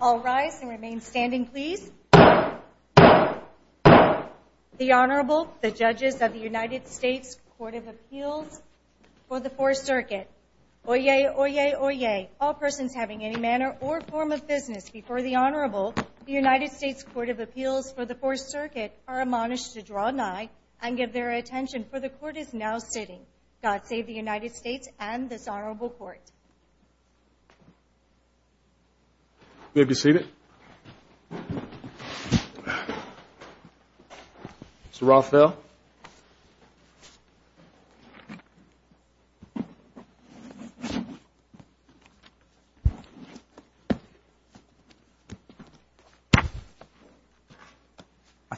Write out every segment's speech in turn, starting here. All rise and remain standing, please. The Honorable, the judges of the United States Court of Appeals for the Fourth Circuit. Oyez, oyez, oyez. All persons having any manner or form of business before the Honorable, the United States Court of Appeals for the Fourth Circuit, are admonished to draw an eye and give their attention, for the court is now sitting. God save the United States and this Honorable Court. You may be seated. Mr. Rothfeld.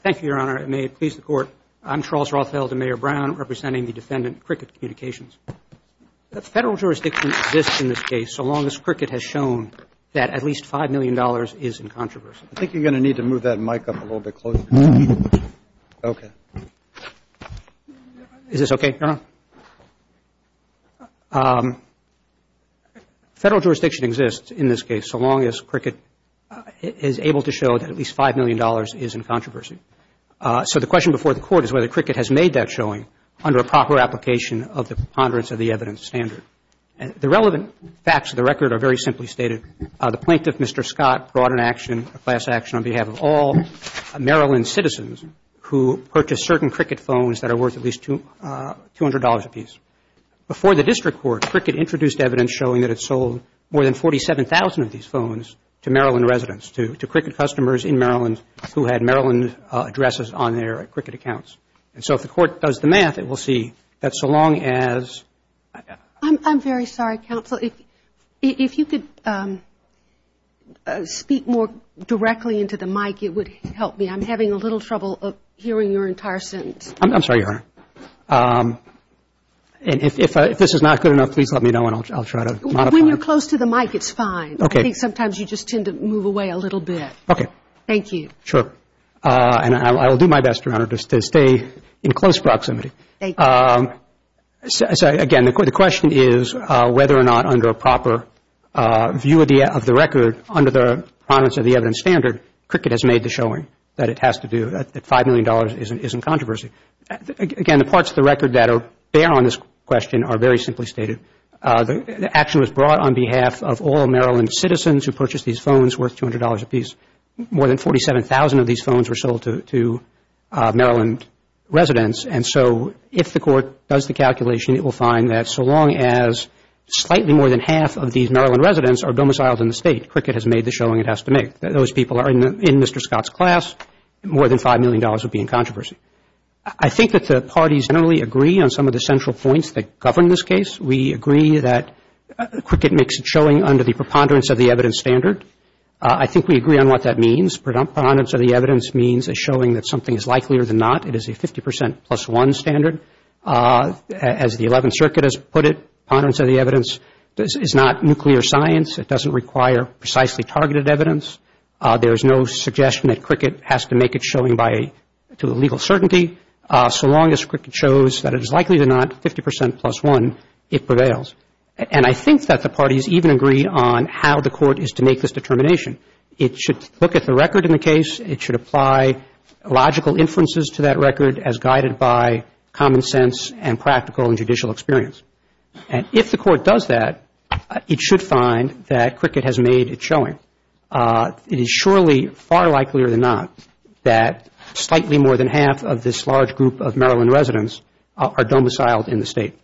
Thank you, Your Honor, and may it please the Court, I'm Charles Rothfeld, the Mayor Brown, representing the defendant, Cricket Communications. The federal jurisdiction exists in this case, so long as Cricket has shown that at least $5 million is in controversy. I think you're going to need to move that mic up a little bit closer. Okay. Is this okay, Your Honor? Federal jurisdiction exists in this case, so long as Cricket is able to show that at least $5 million is in controversy. So the question before the Court is whether Cricket has made that showing under a proper application of the preponderance of the evidence standard. The relevant facts of the record are very simply stated. The plaintiff, Mr. Scott, brought an action, a class action, on behalf of all Maryland citizens who purchased certain Cricket phones that are worth at least $200 apiece. Before the district court, Cricket introduced evidence showing that it sold more than 47,000 of these phones to Maryland residents, to Cricket customers in Maryland who had Maryland addresses on their Cricket accounts. And so if the Court does the math, it will see that so long as I'm very sorry, Counselor. If you could speak more directly into the mic, it would help me. I'm having a little trouble hearing your entire sentence. I'm sorry, Your Honor. And if this is not good enough, please let me know and I'll try to modify it. When you're close to the mic, it's fine. Okay. I think sometimes you just tend to move away a little bit. Okay. Thank you. Sure. And I will do my best, Your Honor, to stay in close proximity. Thank you. So again, the question is whether or not under a proper view of the record, under the prominence of the evidence standard, Cricket has made the showing that it has to do, that $5 million isn't controversy. Again, the parts of the record that bear on this question are very simply stated. The action was brought on behalf of all Maryland citizens who purchased these phones worth $200 apiece. More than 47,000 of these phones were sold to Maryland residents. And so if the court does the calculation, it will find that so long as slightly more than half of these Maryland residents are domiciled in the state, Cricket has made the showing it has to make. Those people are in Mr. Scott's class. More than $5 million would be in controversy. I think that the parties generally agree on some of the central points that govern this case. We agree that Cricket makes a showing under the preponderance of the evidence standard. I think we agree on what that means. Preponderance of the evidence means a showing that something is likelier than not. It is a 50% plus one standard. As the 11th Circuit has put it, preponderance of the evidence is not nuclear science. It doesn't require precisely targeted evidence. There is no suggestion that Cricket has to make a showing to a legal certainty. So long as Cricket shows that it is likely than not, 50% plus one, it prevails. And I think that the parties even agree on how the court is to make this determination. It should look at the record in the case. It should apply logical inferences to that record as guided by common sense and practical and judicial experience. And if the court does that, it should find that Cricket has made a showing. It is surely far likelier than not that slightly more than half of this large group of Maryland residents are domiciled in the State.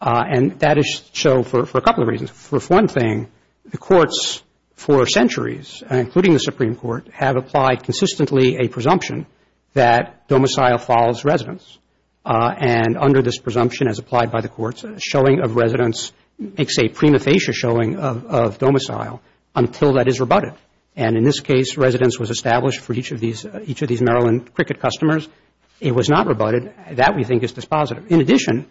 And that is so for a couple of reasons. For one thing, the courts for centuries, including the Supreme Court, have applied consistently a presumption that domicile follows residence. And under this presumption, as applied by the courts, a showing of residence makes a prima facie showing of domicile until that is rebutted. And in this case, residence was established for each of these Maryland Cricket customers. It was not rebutted. That, we think, is dispositive. In addition,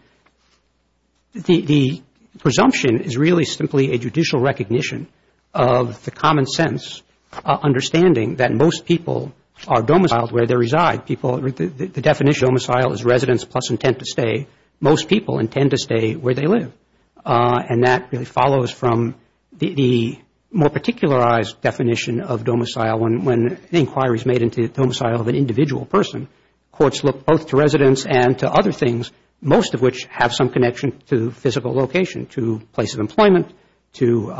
the presumption is really simply a judicial recognition of the common sense understanding that most people are domiciled where they reside. People, the definition of domicile is residence plus intent to stay. Most people intend to stay where they live. And that really follows from the more particularized definition of domicile. When an inquiry is made into the domicile of an individual person, courts look both to residence and to other things, most of which have some connection to physical location, to place of employment, to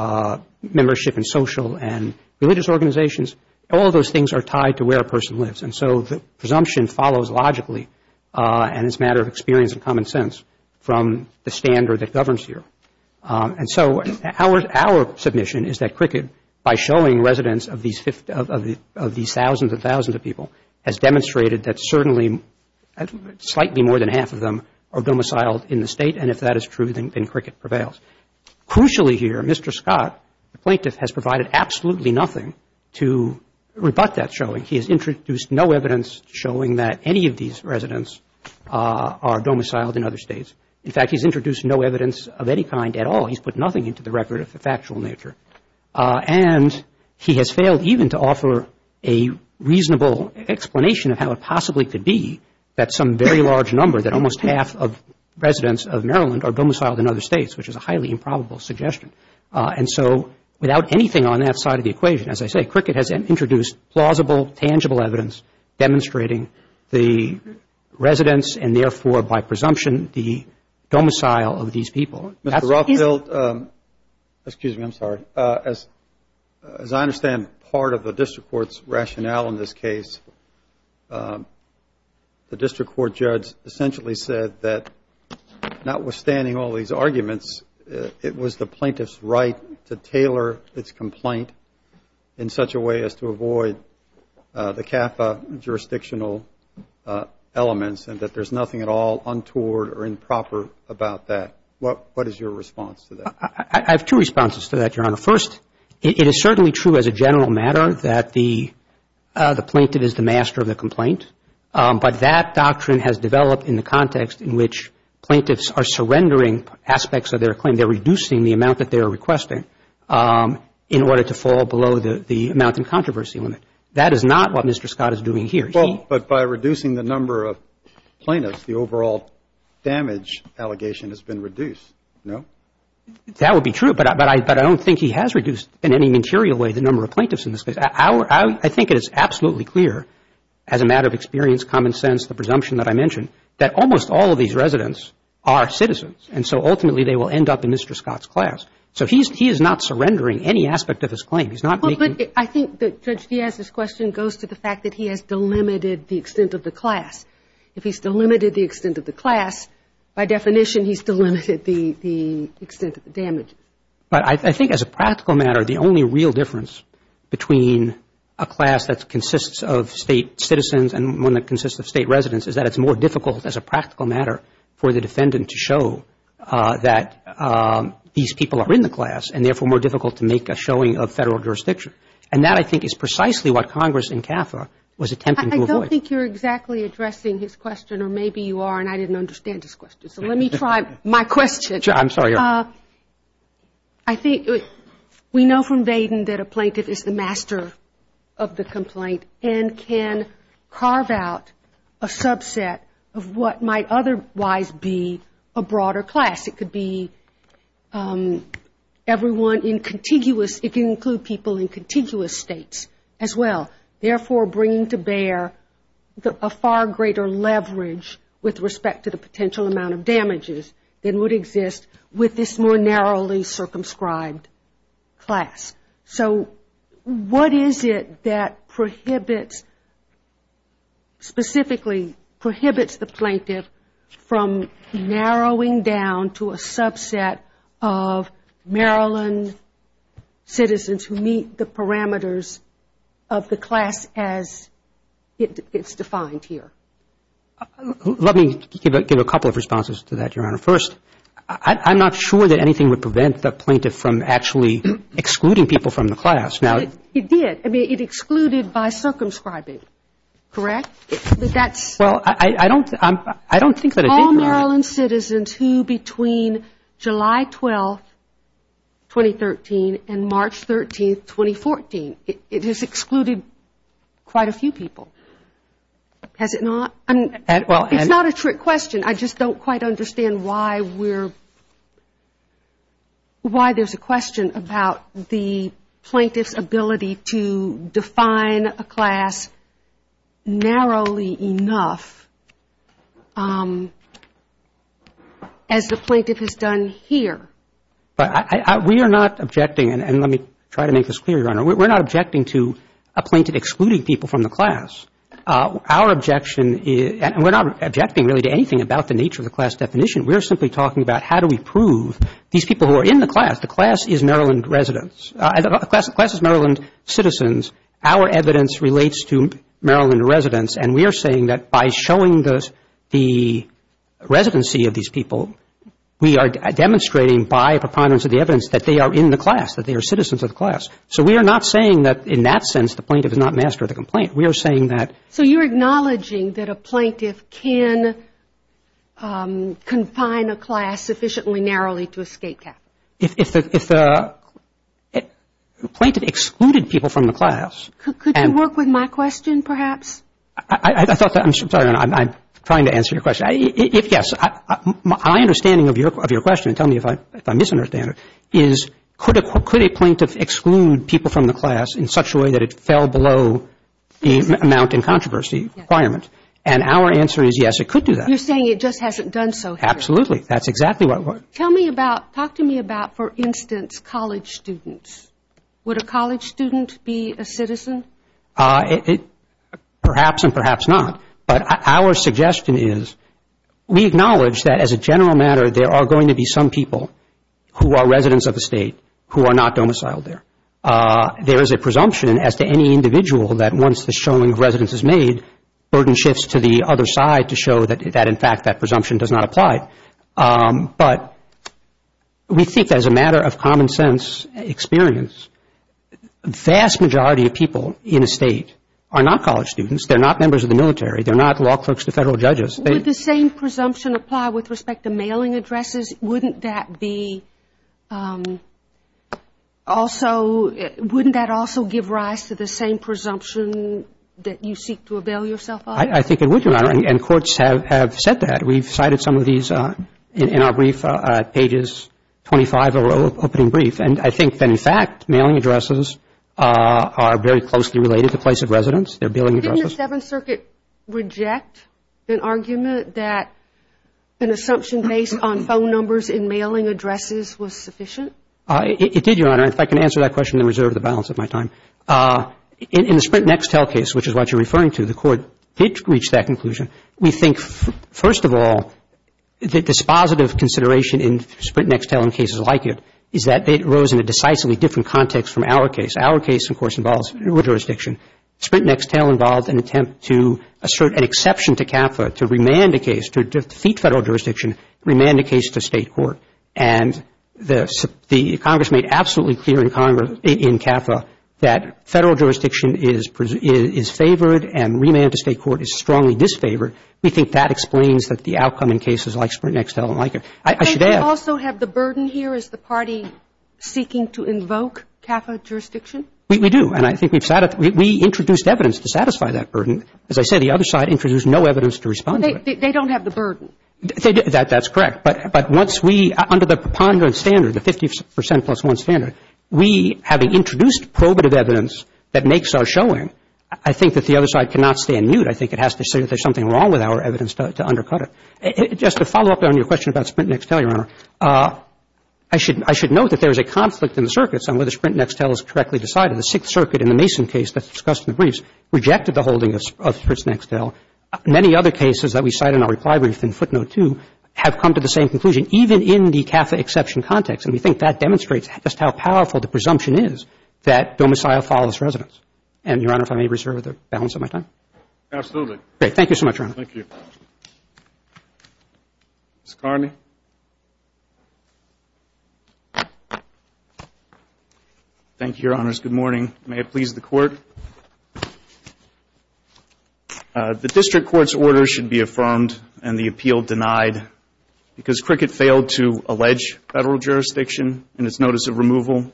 membership in social and religious organizations. All of those things are tied to where a person lives. And so the presumption follows logically, and it's a matter of experience and common sense from the standard that governs here. And so our submission is that Cricket, by showing residence of these thousands and thousands of people, has demonstrated that certainly slightly more than half of them are domiciled in the State, and if that is true, then Cricket prevails. Crucially here, Mr. Scott, the plaintiff, has provided absolutely nothing to rebut that showing. He has introduced no evidence showing that any of these residents are domiciled in other States. In fact, he's introduced no evidence of any kind at all. He's put nothing into the record of the factual nature. And he has failed even to offer a reasonable explanation of how it possibly could be that some very large number, that almost half of residents of Maryland are domiciled in other States, which is a highly improbable suggestion. And so without anything on that side of the equation, as I say, Cricket has introduced plausible, tangible evidence demonstrating the residence, and therefore, by presumption, the domicile of these people. Mr. Ruffield, excuse me, I'm sorry. As I understand part of the District Court's rationale in this case, the District Court judge essentially said that notwithstanding all these arguments, it was the plaintiff's right to tailor its complaint in such a way as to avoid the CAFA jurisdictional elements, and that there's nothing at all untoward or improper about that. What is your response to that? I have two responses to that, Your Honor. First, it is certainly true as a general matter that the plaintiff is the master of the complaint. But that doctrine has developed in the context in which plaintiffs are surrendering aspects of their claim. They're reducing the amount that they're requesting in order to fall below the amount in controversy limit. That is not what Mr. Scott is doing here. But by reducing the number of plaintiffs, the overall damage allegation has been reduced, no? That would be true. But I don't think he has reduced in any material way the number of plaintiffs in this case. I think it is absolutely clear as a matter of experience, common sense, the presumption that I mentioned, that almost all of these residents are citizens. And so ultimately, they will end up in Mr. Scott's class. So he is not surrendering any aspect of his claim. I think that Judge Diaz's question goes to the fact that he has delimited the extent of the class. If he's delimited the extent of the class, by definition, he's delimited the extent of the damage. But I think as a practical matter, the only real difference between a class that consists of state citizens and one that consists of state residents is that it's more difficult as a practical matter for the defendant to show that these people are in the class and therefore more difficult to make a showing of federal jurisdiction. And that, I think, is precisely what Congress in CAFRA was attempting to avoid. I don't think you're exactly addressing his question, or maybe you are and I didn't understand his question. So let me try my question. I'm sorry. I think we know from Vaden that a plaintiff is the master of the complaint and can carve out a subset of what might otherwise be a broader class. It could be everyone in contiguous, it can include people in contiguous states as well, therefore bringing to bear a far greater leverage with respect to the potential amount of damages than would exist with this more narrowly circumscribed class. So what is it that prohibits, specifically prohibits the plaintiff from narrowing down to a subset of Maryland citizens who meet the parameters of the class as it's defined here? Let me give a couple of responses to that, Your Honor. First, I'm not sure that anything would prevent the plaintiff from actually excluding people from the class. It did. I mean, it excluded by circumscribing, correct? Well, I don't think that it did, Your Honor. Maryland citizens who between July 12th, 2013 and March 13th, 2014, it has excluded quite a few people, has it not? It's not a trick question. I just don't quite understand why we're, why there's a question about the plaintiff's ability to define a class narrowly enough as the plaintiff has done here. But we are not objecting, and let me try to make this clear, Your Honor. We're not objecting to a plaintiff excluding people from the class. Our objection is, and we're not objecting really to anything about the nature of the class definition. We're simply talking about how do we prove these people who are in the class, the class is Maryland residents. The class is Maryland citizens. Our evidence relates to Maryland residents, and we are saying that by showing the residency of these people, we are demonstrating by preponderance of the evidence that they are in the class, that they are citizens of the class. So we are not saying that in that sense the plaintiff has not mastered the complaint. We are saying that. So you're acknowledging that a plaintiff can confine a class sufficiently narrowly to a state cap? If the plaintiff excluded people from the class and... Could you work with my question, perhaps? I thought that, I'm sorry, Your Honor, I'm trying to answer your question. If, yes, my understanding of your question, tell me if I misunderstand it, is could a plaintiff exclude people from the class in such a way that it fell below the amount in controversy requirement? And our answer is, yes, it could do that. You're saying it just hasn't done so here. Absolutely. That's exactly what we're... Tell me about, talk to me about, for instance, college students. Would a college student be a citizen? Perhaps and perhaps not. But our suggestion is, we acknowledge that as a general matter, there are going to be some people who are residents of the state who are not domiciled there. There is a presumption as to any individual that once the showing of residence is made, burden shifts to the other side to show that, in fact, that presumption does not apply. But we think as a matter of common sense experience, vast majority of people in a state are not college students. They're not members of the military. They're not law clerks to federal judges. Would the same presumption apply with respect to mailing addresses? Wouldn't that be also, wouldn't that also give rise to the same presumption that you seek to avail yourself of? I think it would, Your Honor, and courts have said that. We've cited some of these in our brief, pages 25 of our opening brief. And I think that, in fact, mailing addresses are very closely related to place of residence. They're billing addresses. Didn't the Seventh Circuit reject an argument that an assumption based on phone numbers in mailing addresses was sufficient? It did, Your Honor. In fact, I can answer that question in reserve of the balance of my time. In the Sprint Next Tell case, which is what you're referring to, the court did reach that conclusion. We think, first of all, the dispositive consideration in Sprint Next Tell and cases like it is that it rose in a decisively different context from our case. Our case, of course, involves jurisdiction. Sprint Next Tell involved an attempt to assert an exception to CAFA, to remand a case, to defeat federal jurisdiction, remand a case to state court. And the Congress made absolutely clear in Congress, in CAFA, that federal jurisdiction is favored and remand to state court is strongly disfavored. We think that explains that the outcome in cases like Sprint Next Tell and like it. I should add — Do we also have the burden here as the party seeking to invoke CAFA jurisdiction? We do. And I think we've — we introduced evidence to satisfy that burden. As I said, the other side introduced no evidence to respond to it. They don't have the burden. That's correct. But once we — under the preponderance standard, the 50 percent plus one standard, we, having introduced probative evidence that makes our showing, I think that the other side cannot stay in mute. I think it has to say that there's something wrong with our evidence to undercut it. Just to follow up on your question about Sprint Next Tell, Your Honor, I should note that there is a conflict in the circuits on whether Sprint Next Tell is correctly decided. The Sixth Circuit in the Mason case that's discussed in the briefs rejected the holding of Sprint Next Tell. Many other cases that we cite in our reply brief in footnote two have come to the same conclusion, even in the CAFA exception context. And we think that demonstrates just how powerful the presumption is that domicile follows residence. And, Your Honor, if I may reserve the balance of my time. Absolutely. Great. Thank you so much, Your Honor. Thank you. Ms. Carney. Thank you, Your Honors. Good morning. May it please the Court. The District Court's order should be affirmed and the appeal denied because Cricket failed to allege federal jurisdiction in its notice of removal.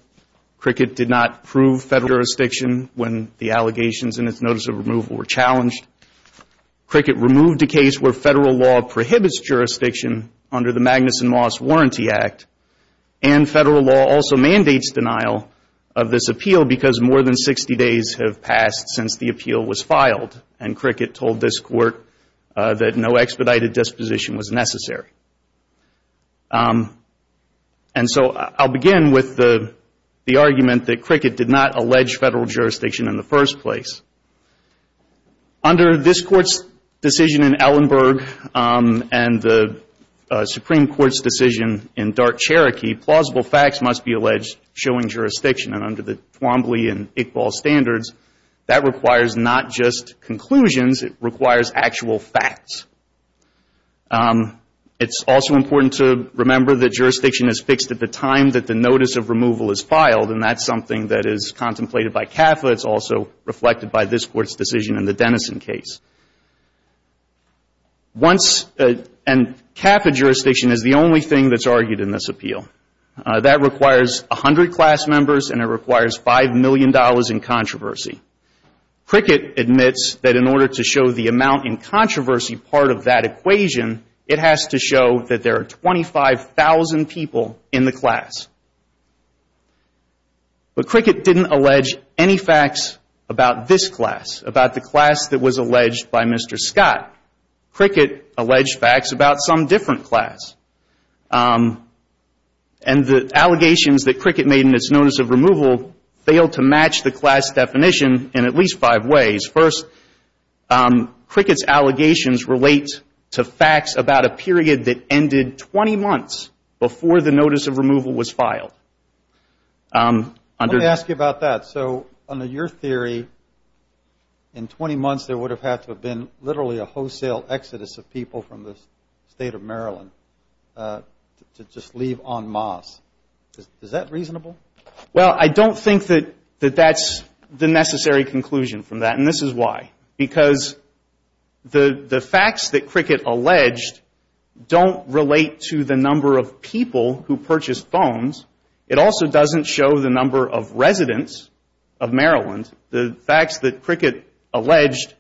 Cricket did not prove federal jurisdiction when the allegations in its notice of removal were challenged. Cricket removed a case where federal law prohibits jurisdiction under the Magnuson Moss Warranty Act. And federal law also mandates denial of this appeal because more than 60 days have passed since the appeal was filed. And Cricket told this Court that no expedited disposition was necessary. And so I'll begin with the argument that Cricket did not allege federal jurisdiction in the first place. Under this Court's decision in Ellenberg and the Supreme Court's decision in Dart, Cherokee, plausible facts must be alleged showing jurisdiction. And under the Twombly and Iqbal standards, that requires not just conclusions. It requires actual facts. It's also important to remember that jurisdiction is fixed at the time that the notice of removal is filed. And that's something that is contemplated by CAFA. It's also reflected by this Court's decision in the Dennison case. Once, and CAFA jurisdiction is the only thing that's argued in this appeal. That requires 100 class members, and it requires $5 million in controversy. Cricket admits that in order to show the amount in controversy part of that equation, it has to show that there are 25,000 people in the class. But Cricket didn't allege any facts about this class, about the class that was alleged by Mr. Scott. Cricket alleged facts about some different class. And the allegations that Cricket made in its notice of removal failed to match the class definition in at least five ways. First, Cricket's allegations relate to facts about a period that ended 20 months before the notice of removal was filed. Let me ask you about that. So under your theory, in 20 months there would have had to have been literally a wholesale exodus of people from the state of Maryland to just leave en masse. Is that reasonable? Well, I don't think that that's the necessary conclusion from that. And this is why. Because the facts that Cricket alleged don't relate to the number of people who purchased phones. It also doesn't show the number of residents of Maryland. The facts that Cricket alleged,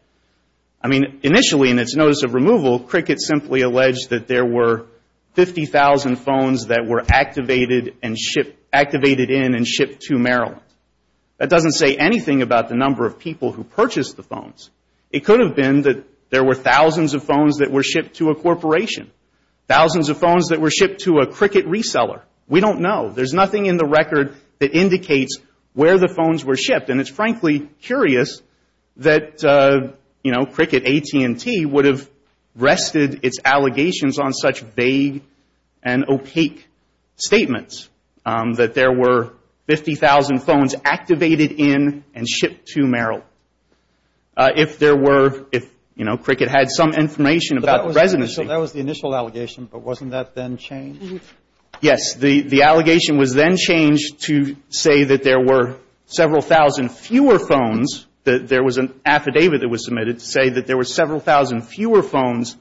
I mean, initially in its notice of removal, Cricket simply alleged that there were 50,000 phones that were activated in and shipped to Maryland. That doesn't say anything about the number of people who purchased the phones. It could have been that there were thousands of phones that were shipped to a corporation. Thousands of phones that were shipped to a Cricket reseller. We don't know. There's nothing in the record that indicates where the phones were shipped. And it's frankly curious that, you know, Cricket AT&T would have rested its allegations on such vague and opaque statements. That there were 50,000 phones activated in and shipped to Maryland. If there were, if, you know, Cricket had some information about the residents. So that was the initial allegation, but wasn't that then changed? Yes. The allegation was then changed to say that there were several thousand fewer phones, that there was an affidavit that was submitted to say that there were several thousand fewer phones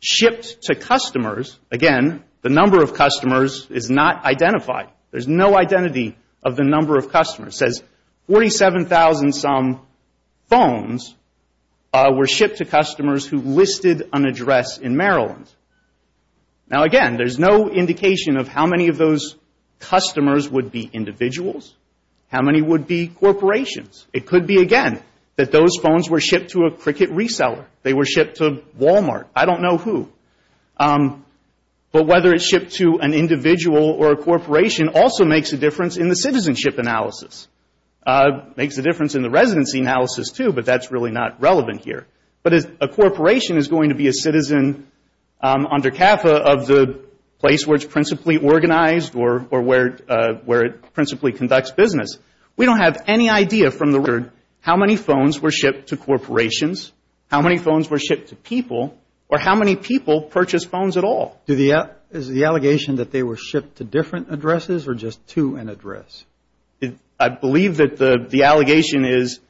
shipped to customers. Again, the number of customers is not identified. There's no identity of the number of customers. It says 47,000 some phones were shipped to customers who listed an address in Maryland. Now again, there's no indication of how many of those customers would be individuals. How many would be corporations? It could be, again, that those phones were shipped to a Cricket reseller. They were shipped to Walmart. I don't know who. But whether it's shipped to an individual or a corporation also makes a difference in the citizenship analysis. Makes a difference in the residency analysis too, but that's really not relevant here. But a corporation is going to be a citizen under CAFA of the place where it's principally organized or where it principally conducts business. We don't have any idea from the record how many phones were shipped to corporations, how many phones were shipped to people, or how many people purchased phones at all. Is the allegation that they were shipped to different addresses or just to an address? I believe that the allegation is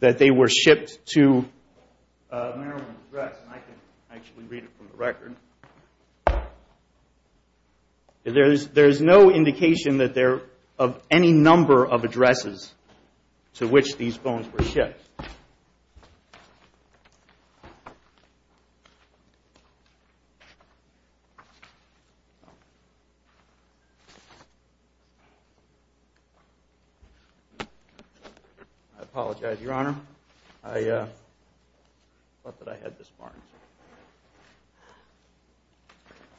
that they were shipped to a Maryland address. There is no indication of any number of addresses to which these phones were shipped. I apologize, Your Honor. I thought that I had this barn.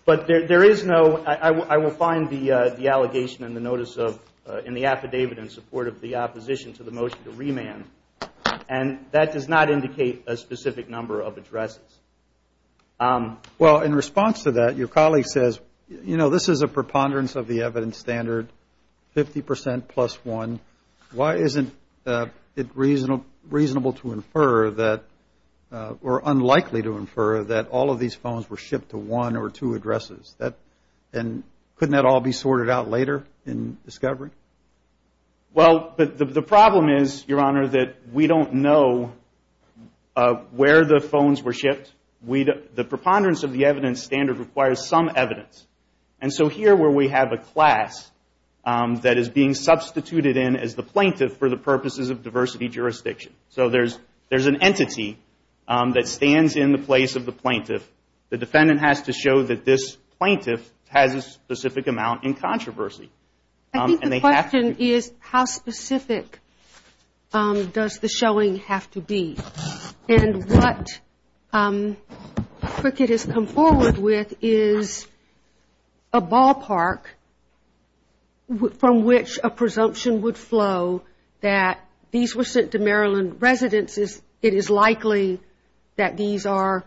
But there is no, I will find the allegation in the notice of, in the affidavit in support of the opposition to the motion to remand. And that does not indicate a specific number of addresses. Well, in response to that, your colleague says, you know, this is a preponderance of the evidence standard, 50% plus 1. Why isn't it reasonable to infer that, or unlikely to infer that all of these phones were shipped to one or two addresses? And couldn't that all be sorted out later in discovery? Well, the problem is, Your Honor, that we don't know where the phones were shipped. The preponderance of the evidence standard requires some evidence. And so here where we have a class that is being substituted in as the plaintiff for the purposes of diversity jurisdiction. So there is an entity that stands in the place of the plaintiff. The defendant has to show that this plaintiff has a specific amount in controversy. I think the question is, how specific does the showing have to be? And what Cricket has come forward with is a ballpark from which a presumption would flow that these were sent to Maryland residents. It is likely that these are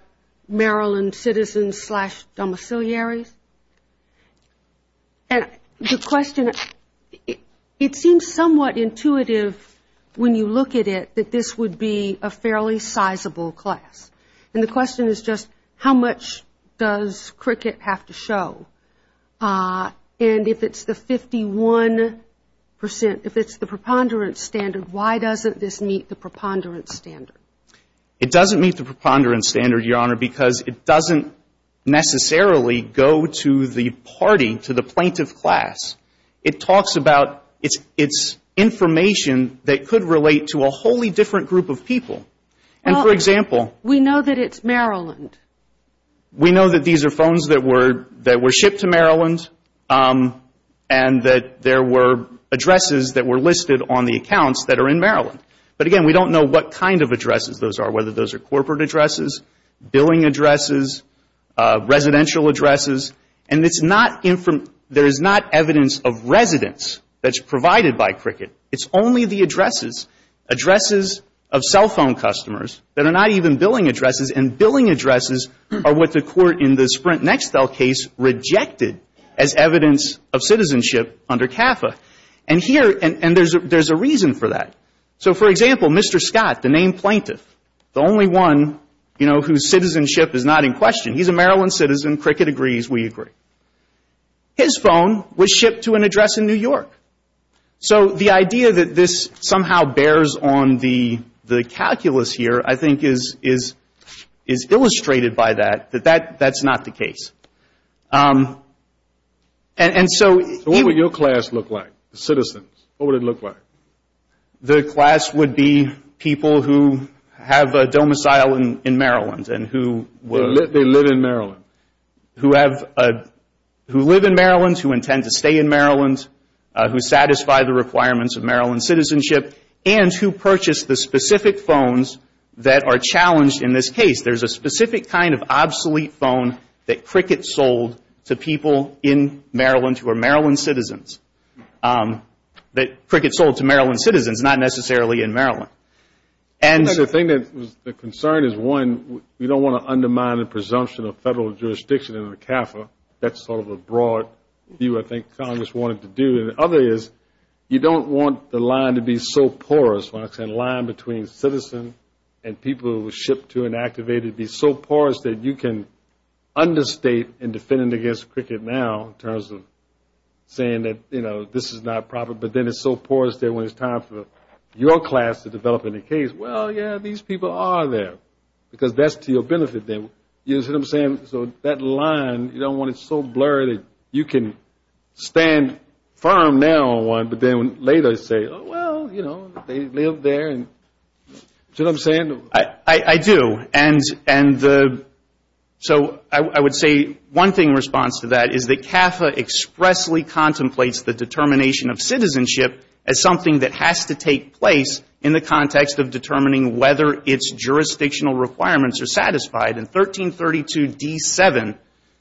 Maryland citizens slash domiciliaries. And the question, it seems somewhat intuitive when you look at it, that this would be a fairly specific case. This is a fairly sizable class. And the question is just, how much does Cricket have to show? And if it's the 51 percent, if it's the preponderance standard, why doesn't this meet the preponderance standard? It doesn't meet the preponderance standard, Your Honor, because it doesn't necessarily go to the party, to the plaintiff class. It talks about, it's information that could relate to a wholly different group of people. And, for example We know that it's Maryland. We know that these are phones that were shipped to Maryland and that there were addresses that were listed on the accounts that are in Maryland. But, again, we don't know what kind of addresses those are, whether those are corporate addresses, billing addresses, residential addresses. And it's not, there is not evidence of residence that's provided by Cricket. It's only the addresses, addresses of cell phone customers that are not even billing addresses. And billing addresses are what the Court in the Sprint-Nextel case rejected as evidence of citizenship under CAFA. And here, and there's a reason for that. So, for example, Mr. Scott, the named plaintiff, the only one, you know, whose citizenship is not in question, he's a Maryland citizen, Cricket agrees, we agree. His phone was shipped to an address in New York. So the idea that this somehow bears on the calculus here, I think, is illustrated by that, that that's not the case. And so... So what would your class look like, citizens? What would it look like? The class would be people who have a domicile in Maryland and who... They live in Maryland. Who live in Maryland, who intend to stay in Maryland, who satisfy the requirements of Maryland citizenship, and who purchase the specific phones that are challenged in this case. There's a specific kind of obsolete phone that Cricket sold to people in Maryland who are Maryland citizens. That Cricket sold to Maryland citizens, not necessarily in Maryland. I think the concern is, one, we don't want to undermine the presumption of federal jurisdiction under CAFA. That's sort of a broad view I think Congress wanted to do. The other is, you don't want the line to be so porous. Line between citizen and people who were shipped to and activated be so porous that you can understate and defend against Cricket now in terms of saying that, you know, this is not proper. But then it's so porous that when it's time for your class to develop in a case, well, yeah, these people are there. Because that's to your benefit then. You know what I'm saying? So that line, you don't want it so blurry that you can stand firm now on one, but then later say, well, you know, they lived there. You know what I'm saying? I do. And so I would say one thing in response to that is that CAFA expressly contemplates the determination of citizenship as something that has to take place in the context of determining whether its jurisdictional requirements are satisfied. And 1332D7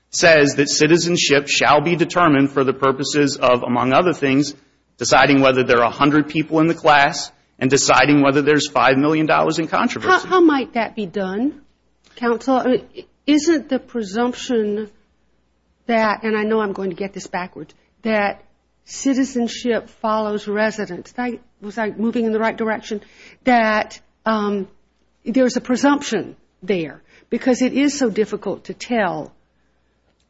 says that citizenship shall be determined for the purposes of, among other things, deciding whether there are 100 people in the class and deciding whether there's $5 million in controversy. How might that be done, counsel? Isn't the presumption that, and I know I'm going to get this backwards, that citizenship follows residence. Was I moving in the right direction? Because it is so difficult to tell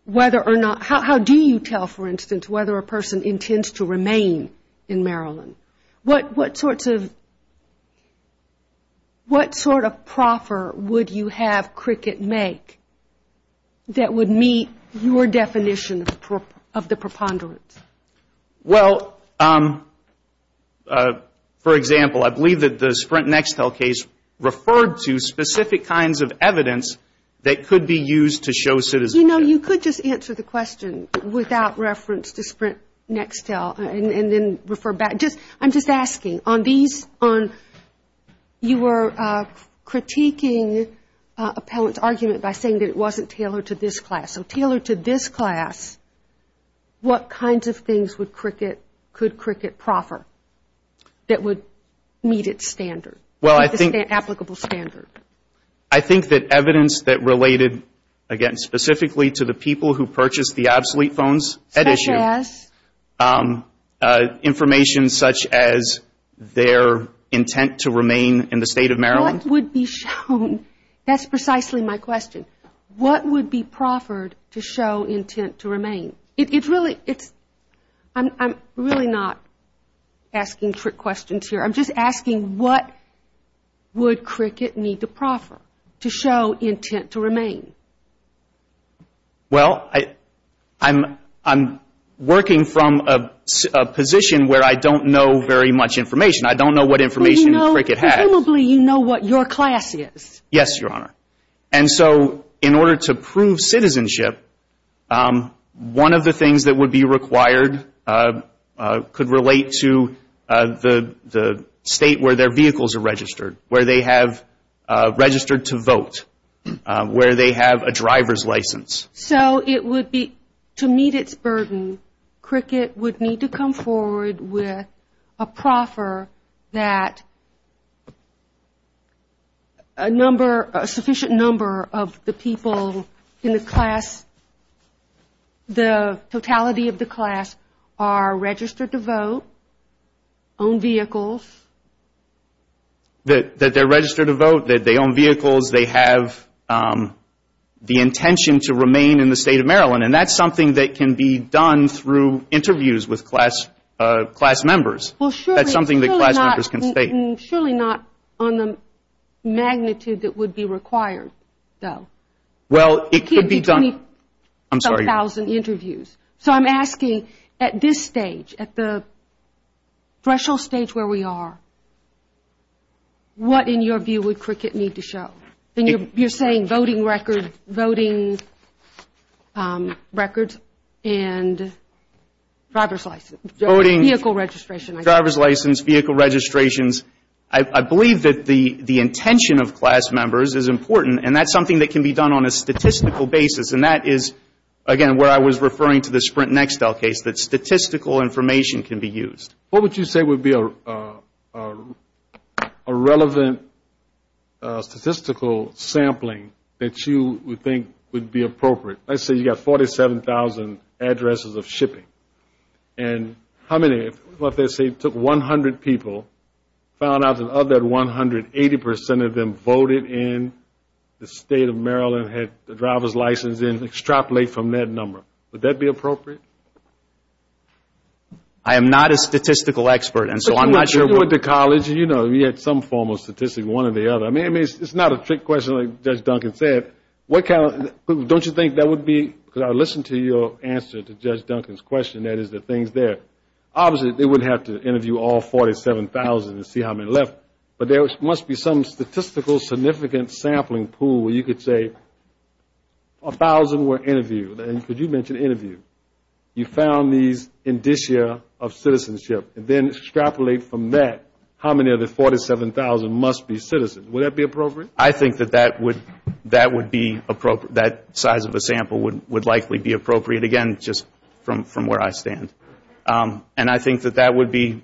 whether or not, how do you tell, for instance, whether a person intends to remain in Maryland? What sort of proffer would you have Cricket make that would meet your definition of the preponderance? Well, for example, I believe that the Sprint Nextel case referred to specific kinds of evidence that would allow a person to remain in Maryland. That could be used to show citizenship. You know, you could just answer the question without reference to Sprint Nextel and then refer back. I'm just asking, on these, you were critiquing Appellant's argument by saying that it wasn't tailored to this class. So tailored to this class, what kinds of things would Cricket, could Cricket proffer that would meet its standard? Well, I think that evidence that related, again, specifically to the people who purchased the obsolete phones at issue, information such as their intent to remain in the State of Maryland. What would be shown? That's precisely my question. What would be proffered to show intent to remain? It's really, I'm really not asking trick questions here. I'm just asking what would Cricket need to proffer to show intent to remain? Well, I'm working from a position where I don't know very much information. I don't know what information Cricket has. Presumably you know what your class is. Yes, Your Honor. And so in order to prove citizenship, one of the things that would be required could relate to the State where their vehicles are registered, where they have registered to vote, where they have a driver's license. So it would be, to meet its burden, Cricket would need to come forward with a proffer that a number, a sufficient number of the people in the class, the totality of the class are registered to vote, own vehicles. That they're registered to vote, that they own vehicles, they have the intention to remain in the State of Maryland. And that's something that can be done through interviews with class members. That's something that class members can state. Surely not on the magnitude that would be required, though. Well, it could be done. I'm sorry, Your Honor. So I'm asking at this stage, at the threshold stage where we are, what in your view would Cricket need to show? You're saying voting records and driver's license. Vehicle registration, I guess. Driver's license, vehicle registrations. I believe that the intention of class members is important, and that's something that can be done on a statistical basis. And that is, again, where I was referring to the Sprint Nextel case, that statistical information can be used. What is the statistical sampling that you would think would be appropriate? Let's say you've got 47,000 addresses of shipping. And how many, let's say it took 100 people, found out that of that 180% of them voted in the State of Maryland, had the driver's license in, extrapolate from that number. Would that be appropriate? I am not a statistical expert, and so I'm not sure. You went to college, you know, you had some form of statistics, one or the other. I mean, it's not a trick question like Judge Duncan said. Don't you think that would be, because I listened to your answer to Judge Duncan's question, that is the things there. Obviously, they wouldn't have to interview all 47,000 and see how many left. But there must be some statistical significant sampling pool where you could say 1,000 were interviewed, and could you mention interviewed. You found these indicia of citizenship. Then extrapolate from that how many of the 47,000 must be citizens. Would that be appropriate? I think that that would be, that size of a sample would likely be appropriate. Again, just from where I stand. And I think that that would be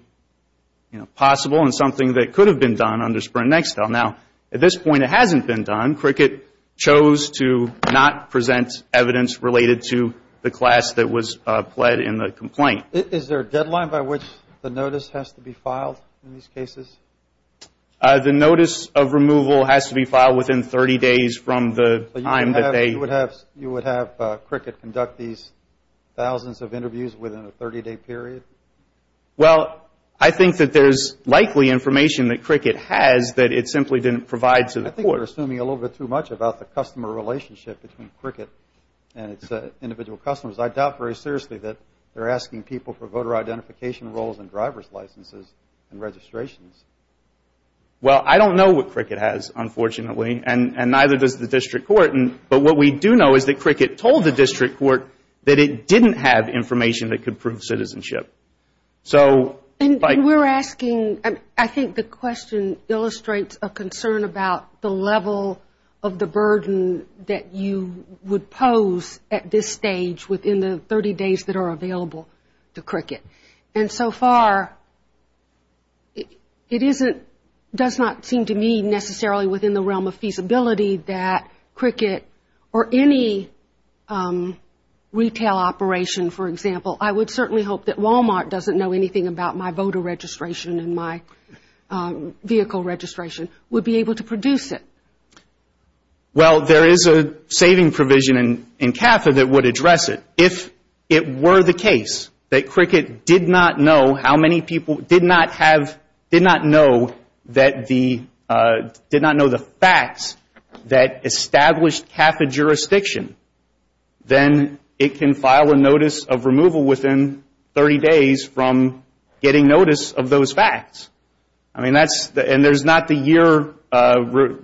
possible and something that could have been done under Sprint Nextel. Now, at this point, it hasn't been done. Cricket chose to not present evidence related to the class that was pled in the complaint. Is there a deadline by which the notice has to be filed in these cases? The notice of removal has to be filed within 30 days from the time that they You would have Cricket conduct these thousands of interviews within a 30-day period? Well, I think that there's likely information that Cricket has that it simply didn't provide to the court. I think you're assuming a little bit too much about the customer relationship between Cricket and its individual customers. I doubt very seriously that they're asking people for voter identification rolls and driver's licenses and registrations. Well, I don't know what Cricket has, unfortunately, and neither does the district court. But what we do know is that Cricket told the district court that it didn't have information that could prove citizenship. And we're asking, I think the question illustrates a concern about the level of the burden that you would pose at this stage within the 30 days that are available to Cricket. And so far, it doesn't seem to me necessarily within the realm of feasibility that Cricket or any retail operation, for example, I would certainly hope that Walmart doesn't know anything about my voter registration and my vehicle registration, would be able to produce it. Well, there is a saving provision in CAFA that would address it. If it were the case that Cricket did not know how many people, did not have, did not know that the, did not know the facts that established CAFA jurisdiction, then it can file a notice of removal within 30 days from getting notice of those facts. I mean, that's, and there's not the year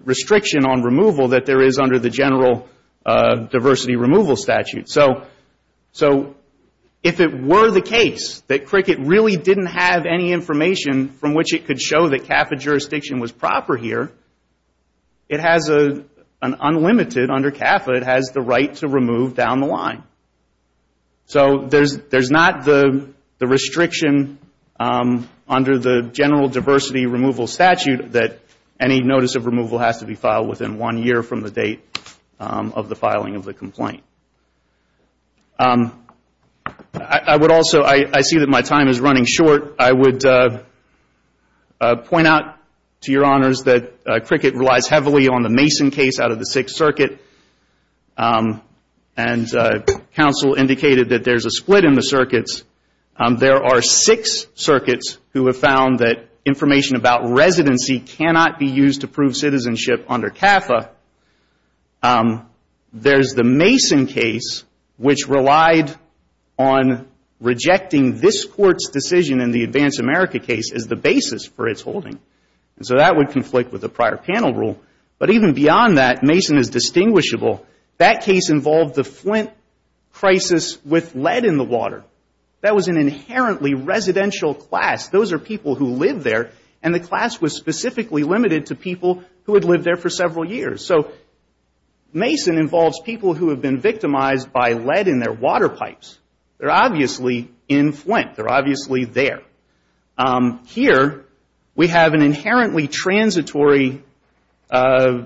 restriction on removal that there is under the general diversity removal statute. So if it were the case that Cricket really didn't have any information from which it could show that CAFA jurisdiction was proper here, it has an unlimited, under CAFA, it has the right to remove down the line. So there's not the restriction under the general diversity removal statute that any notice of removal has to be filed within one year from the date of the filing of the complaint. I would also, I see that my time is running short. I would point out to your honors that Cricket relies heavily on the Mason case out of the Sixth Circuit. And counsel indicated that there's a split in the circuits. There are six circuits who have found that information about residency cannot be used to prove citizenship under CAFA. There's the Mason case, which relied on rejecting this Court's decision in the Advance America case as the basis for its holding. And so that would conflict with the prior panel rule. But even beyond that, Mason is distinguishable. That case involved the Flint crisis with lead in the water. That was an inherently residential class. Those are people who live there, and the class was specifically limited to people who had lived there for several years. So Mason involves people who have been victimized by lead in their water pipes. They're obviously in Flint. They're obviously there. Here we have an inherently transitory, facts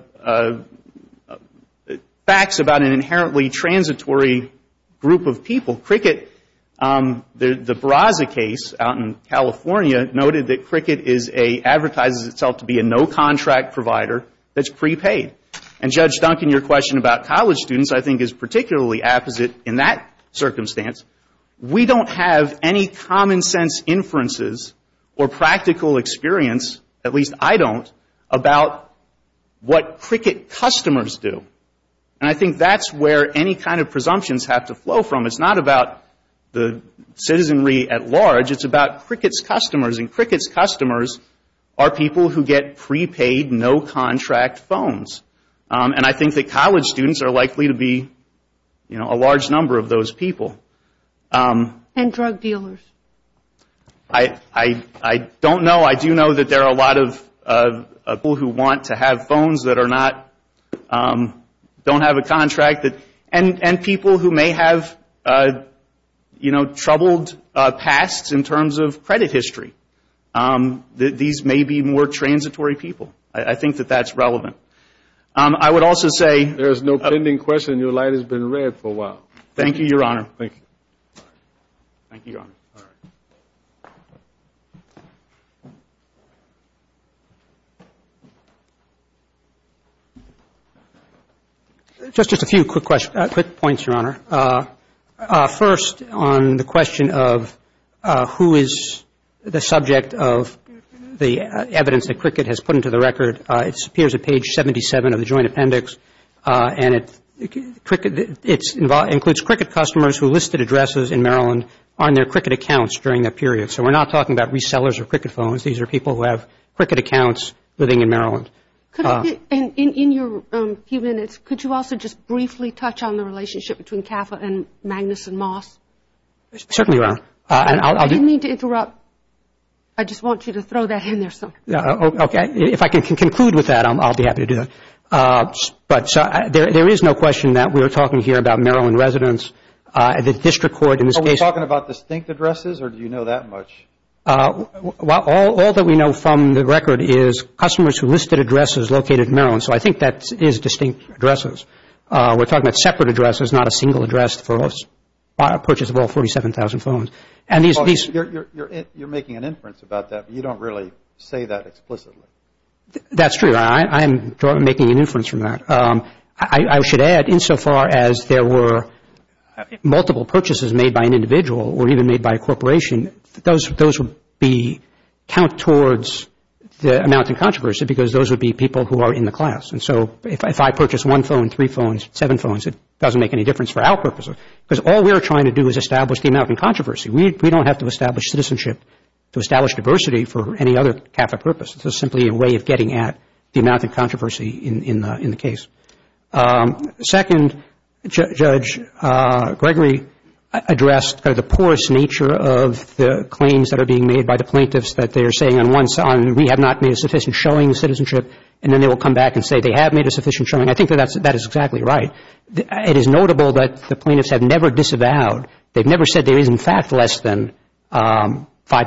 about an inherently transitory group of people. Cricket, the Braza case out in California noted that Cricket is a, advertises itself to be a no-contract provider that's prepaid. And Judge Duncan, your question about college students I think is particularly apposite in that circumstance. We don't have any common sense inferences or practical experience, at least I don't, about what Cricket customers do. And I think that's where any kind of presumptions have to flow from. It's not about the citizenry at large. It's about Cricket's customers, and Cricket's customers are people who get prepaid, no-contract phones. And I think that college students are likely to be, you know, a large number of those people. And drug dealers. I don't know. I do know that there are a lot of people who want to have phones that are not, don't have a contract. And people who may have, you know, troubled pasts in terms of credit history. These may be more transitory people. I think that that's relevant. I would also say. There is no pending question. Your light has been red for a while. Thank you, Your Honor. Just a few quick points, Your Honor. First, on the question of who is the subject of the evidence that Cricket has put into the record, it appears at page 77 of the joint appendix, and it includes Cricket customers who listed addresses in Maryland on their Cricket accounts during that period. So we're not talking about resellers of Cricket phones. These are people who have Cricket accounts living in Maryland. In your few minutes, could you also just briefly touch on the relationship between CAFA and Magnus & Moss? Certainly, Your Honor. I didn't mean to interrupt. I just want you to throw that in there. Okay. If I can conclude with that, I'll be happy to do that. There is no question that we are talking here about Maryland residents. Are we talking about distinct addresses, or do you know that much? All that we know from the record is customers who listed addresses located in Maryland, so I think that is distinct addresses. We're talking about separate addresses, not a single address for purchase of all 47,000 phones. You're making an inference about that, but you don't really say that explicitly. That's true. I'm making an inference from that. I should add, insofar as there were multiple purchases made by an individual or even made by a corporation, those would count towards the amount in controversy because those would be people who are in the class. So if I purchase one phone, three phones, seven phones, it doesn't make any difference for our purposes because all we're trying to do is establish the amount in controversy. We don't have to establish citizenship to establish diversity for any other CAFA purpose. This is simply a way of getting at the amount of controversy in the case. Second, Judge Gregory addressed the porous nature of the claims that are being made by the plaintiffs that they are saying we have not made a sufficient showing of citizenship and then they will come back and say they have made a sufficient showing. I think that is exactly right. It is notable that the plaintiffs have never disavowed. They've never said there is in fact less than $5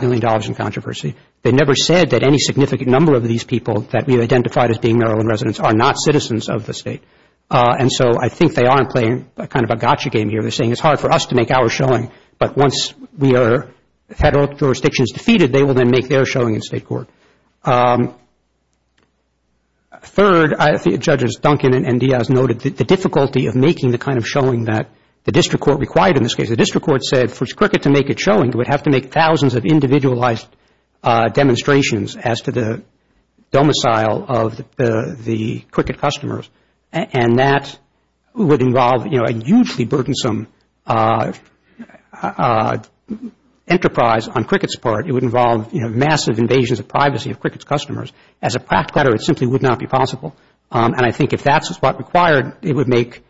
million in controversy. They've never said that any significant number of these people that we've identified as being Maryland residents are not citizens of the State. And so I think they are playing kind of a gotcha game here. They're saying it's hard for us to make our showing, but once we are federal jurisdictions defeated, they will then make their showing in State court. Third, Judges Duncan and Diaz noted the difficulty of making the kind of showing that the district court required in this case. The district court said for Cricket to make its showing, it would have to make thousands of individualized demonstrations as to the domicile of the Cricket customers, and that would involve a hugely burdensome enterprise on Cricket's part. It would involve massive invasions of privacy of Cricket's customers. As a practical matter, it simply would not be possible. And I think if that is what required, it would make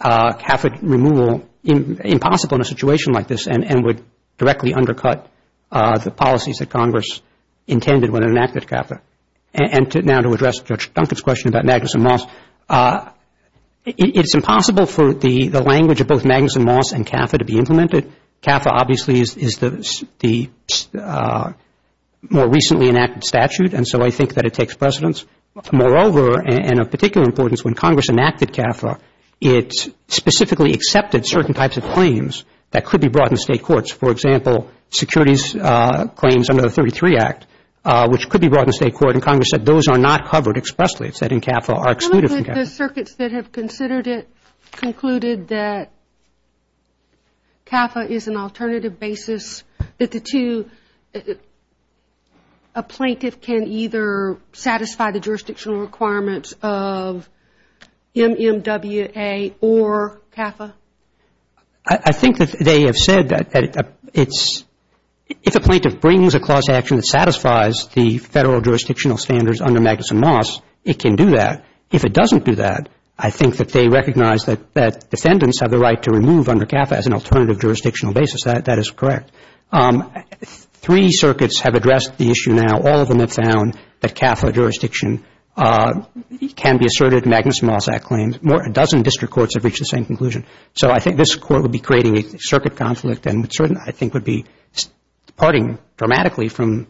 CAFA removal impossible in a situation like this and would directly undercut the policies that Congress intended when it enacted CAFA. And now to address Judge Duncan's question about Magnuson Moss, it's impossible for the language of both Magnuson Moss and CAFA to be implemented. CAFA obviously is the more recently enacted statute, and so I think that it takes precedence. Moreover, and of particular importance, when Congress enacted CAFA, it specifically accepted certain types of claims that could be brought into State courts. For example, securities claims under the 33 Act, which could be brought into State court, and Congress said those are not covered expressly. It said in CAFA are excluded from CAFA. The circuits that have considered it concluded that CAFA is an alternative basis, that the two, a plaintiff can either satisfy the jurisdictional requirements of MMWA or CAFA? I think that they have said that it's, if a plaintiff brings a clause to action that satisfies the Federal jurisdictional standards under Magnuson Moss, it can do that. If it doesn't do that, I think that they recognize that defendants have the right to remove under CAFA as an alternative jurisdictional basis, that is correct. Three circuits have addressed the issue now. All of them have found that CAFA jurisdiction can be asserted in Magnuson Moss claims. More than a dozen district courts have reached the same conclusion. So I think this Court would be creating a circuit conflict and certainly I think would be departing dramatically from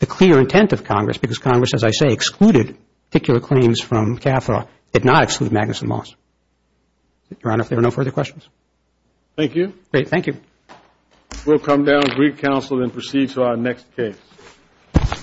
the clear intent of Congress, because Congress, as I say, excluded particular claims from CAFA, did not exclude Magnuson Moss. Your Honor, if there are no further questions. Thank you. Great. Thank you. We'll come down to brief counsel and then proceed to our next case.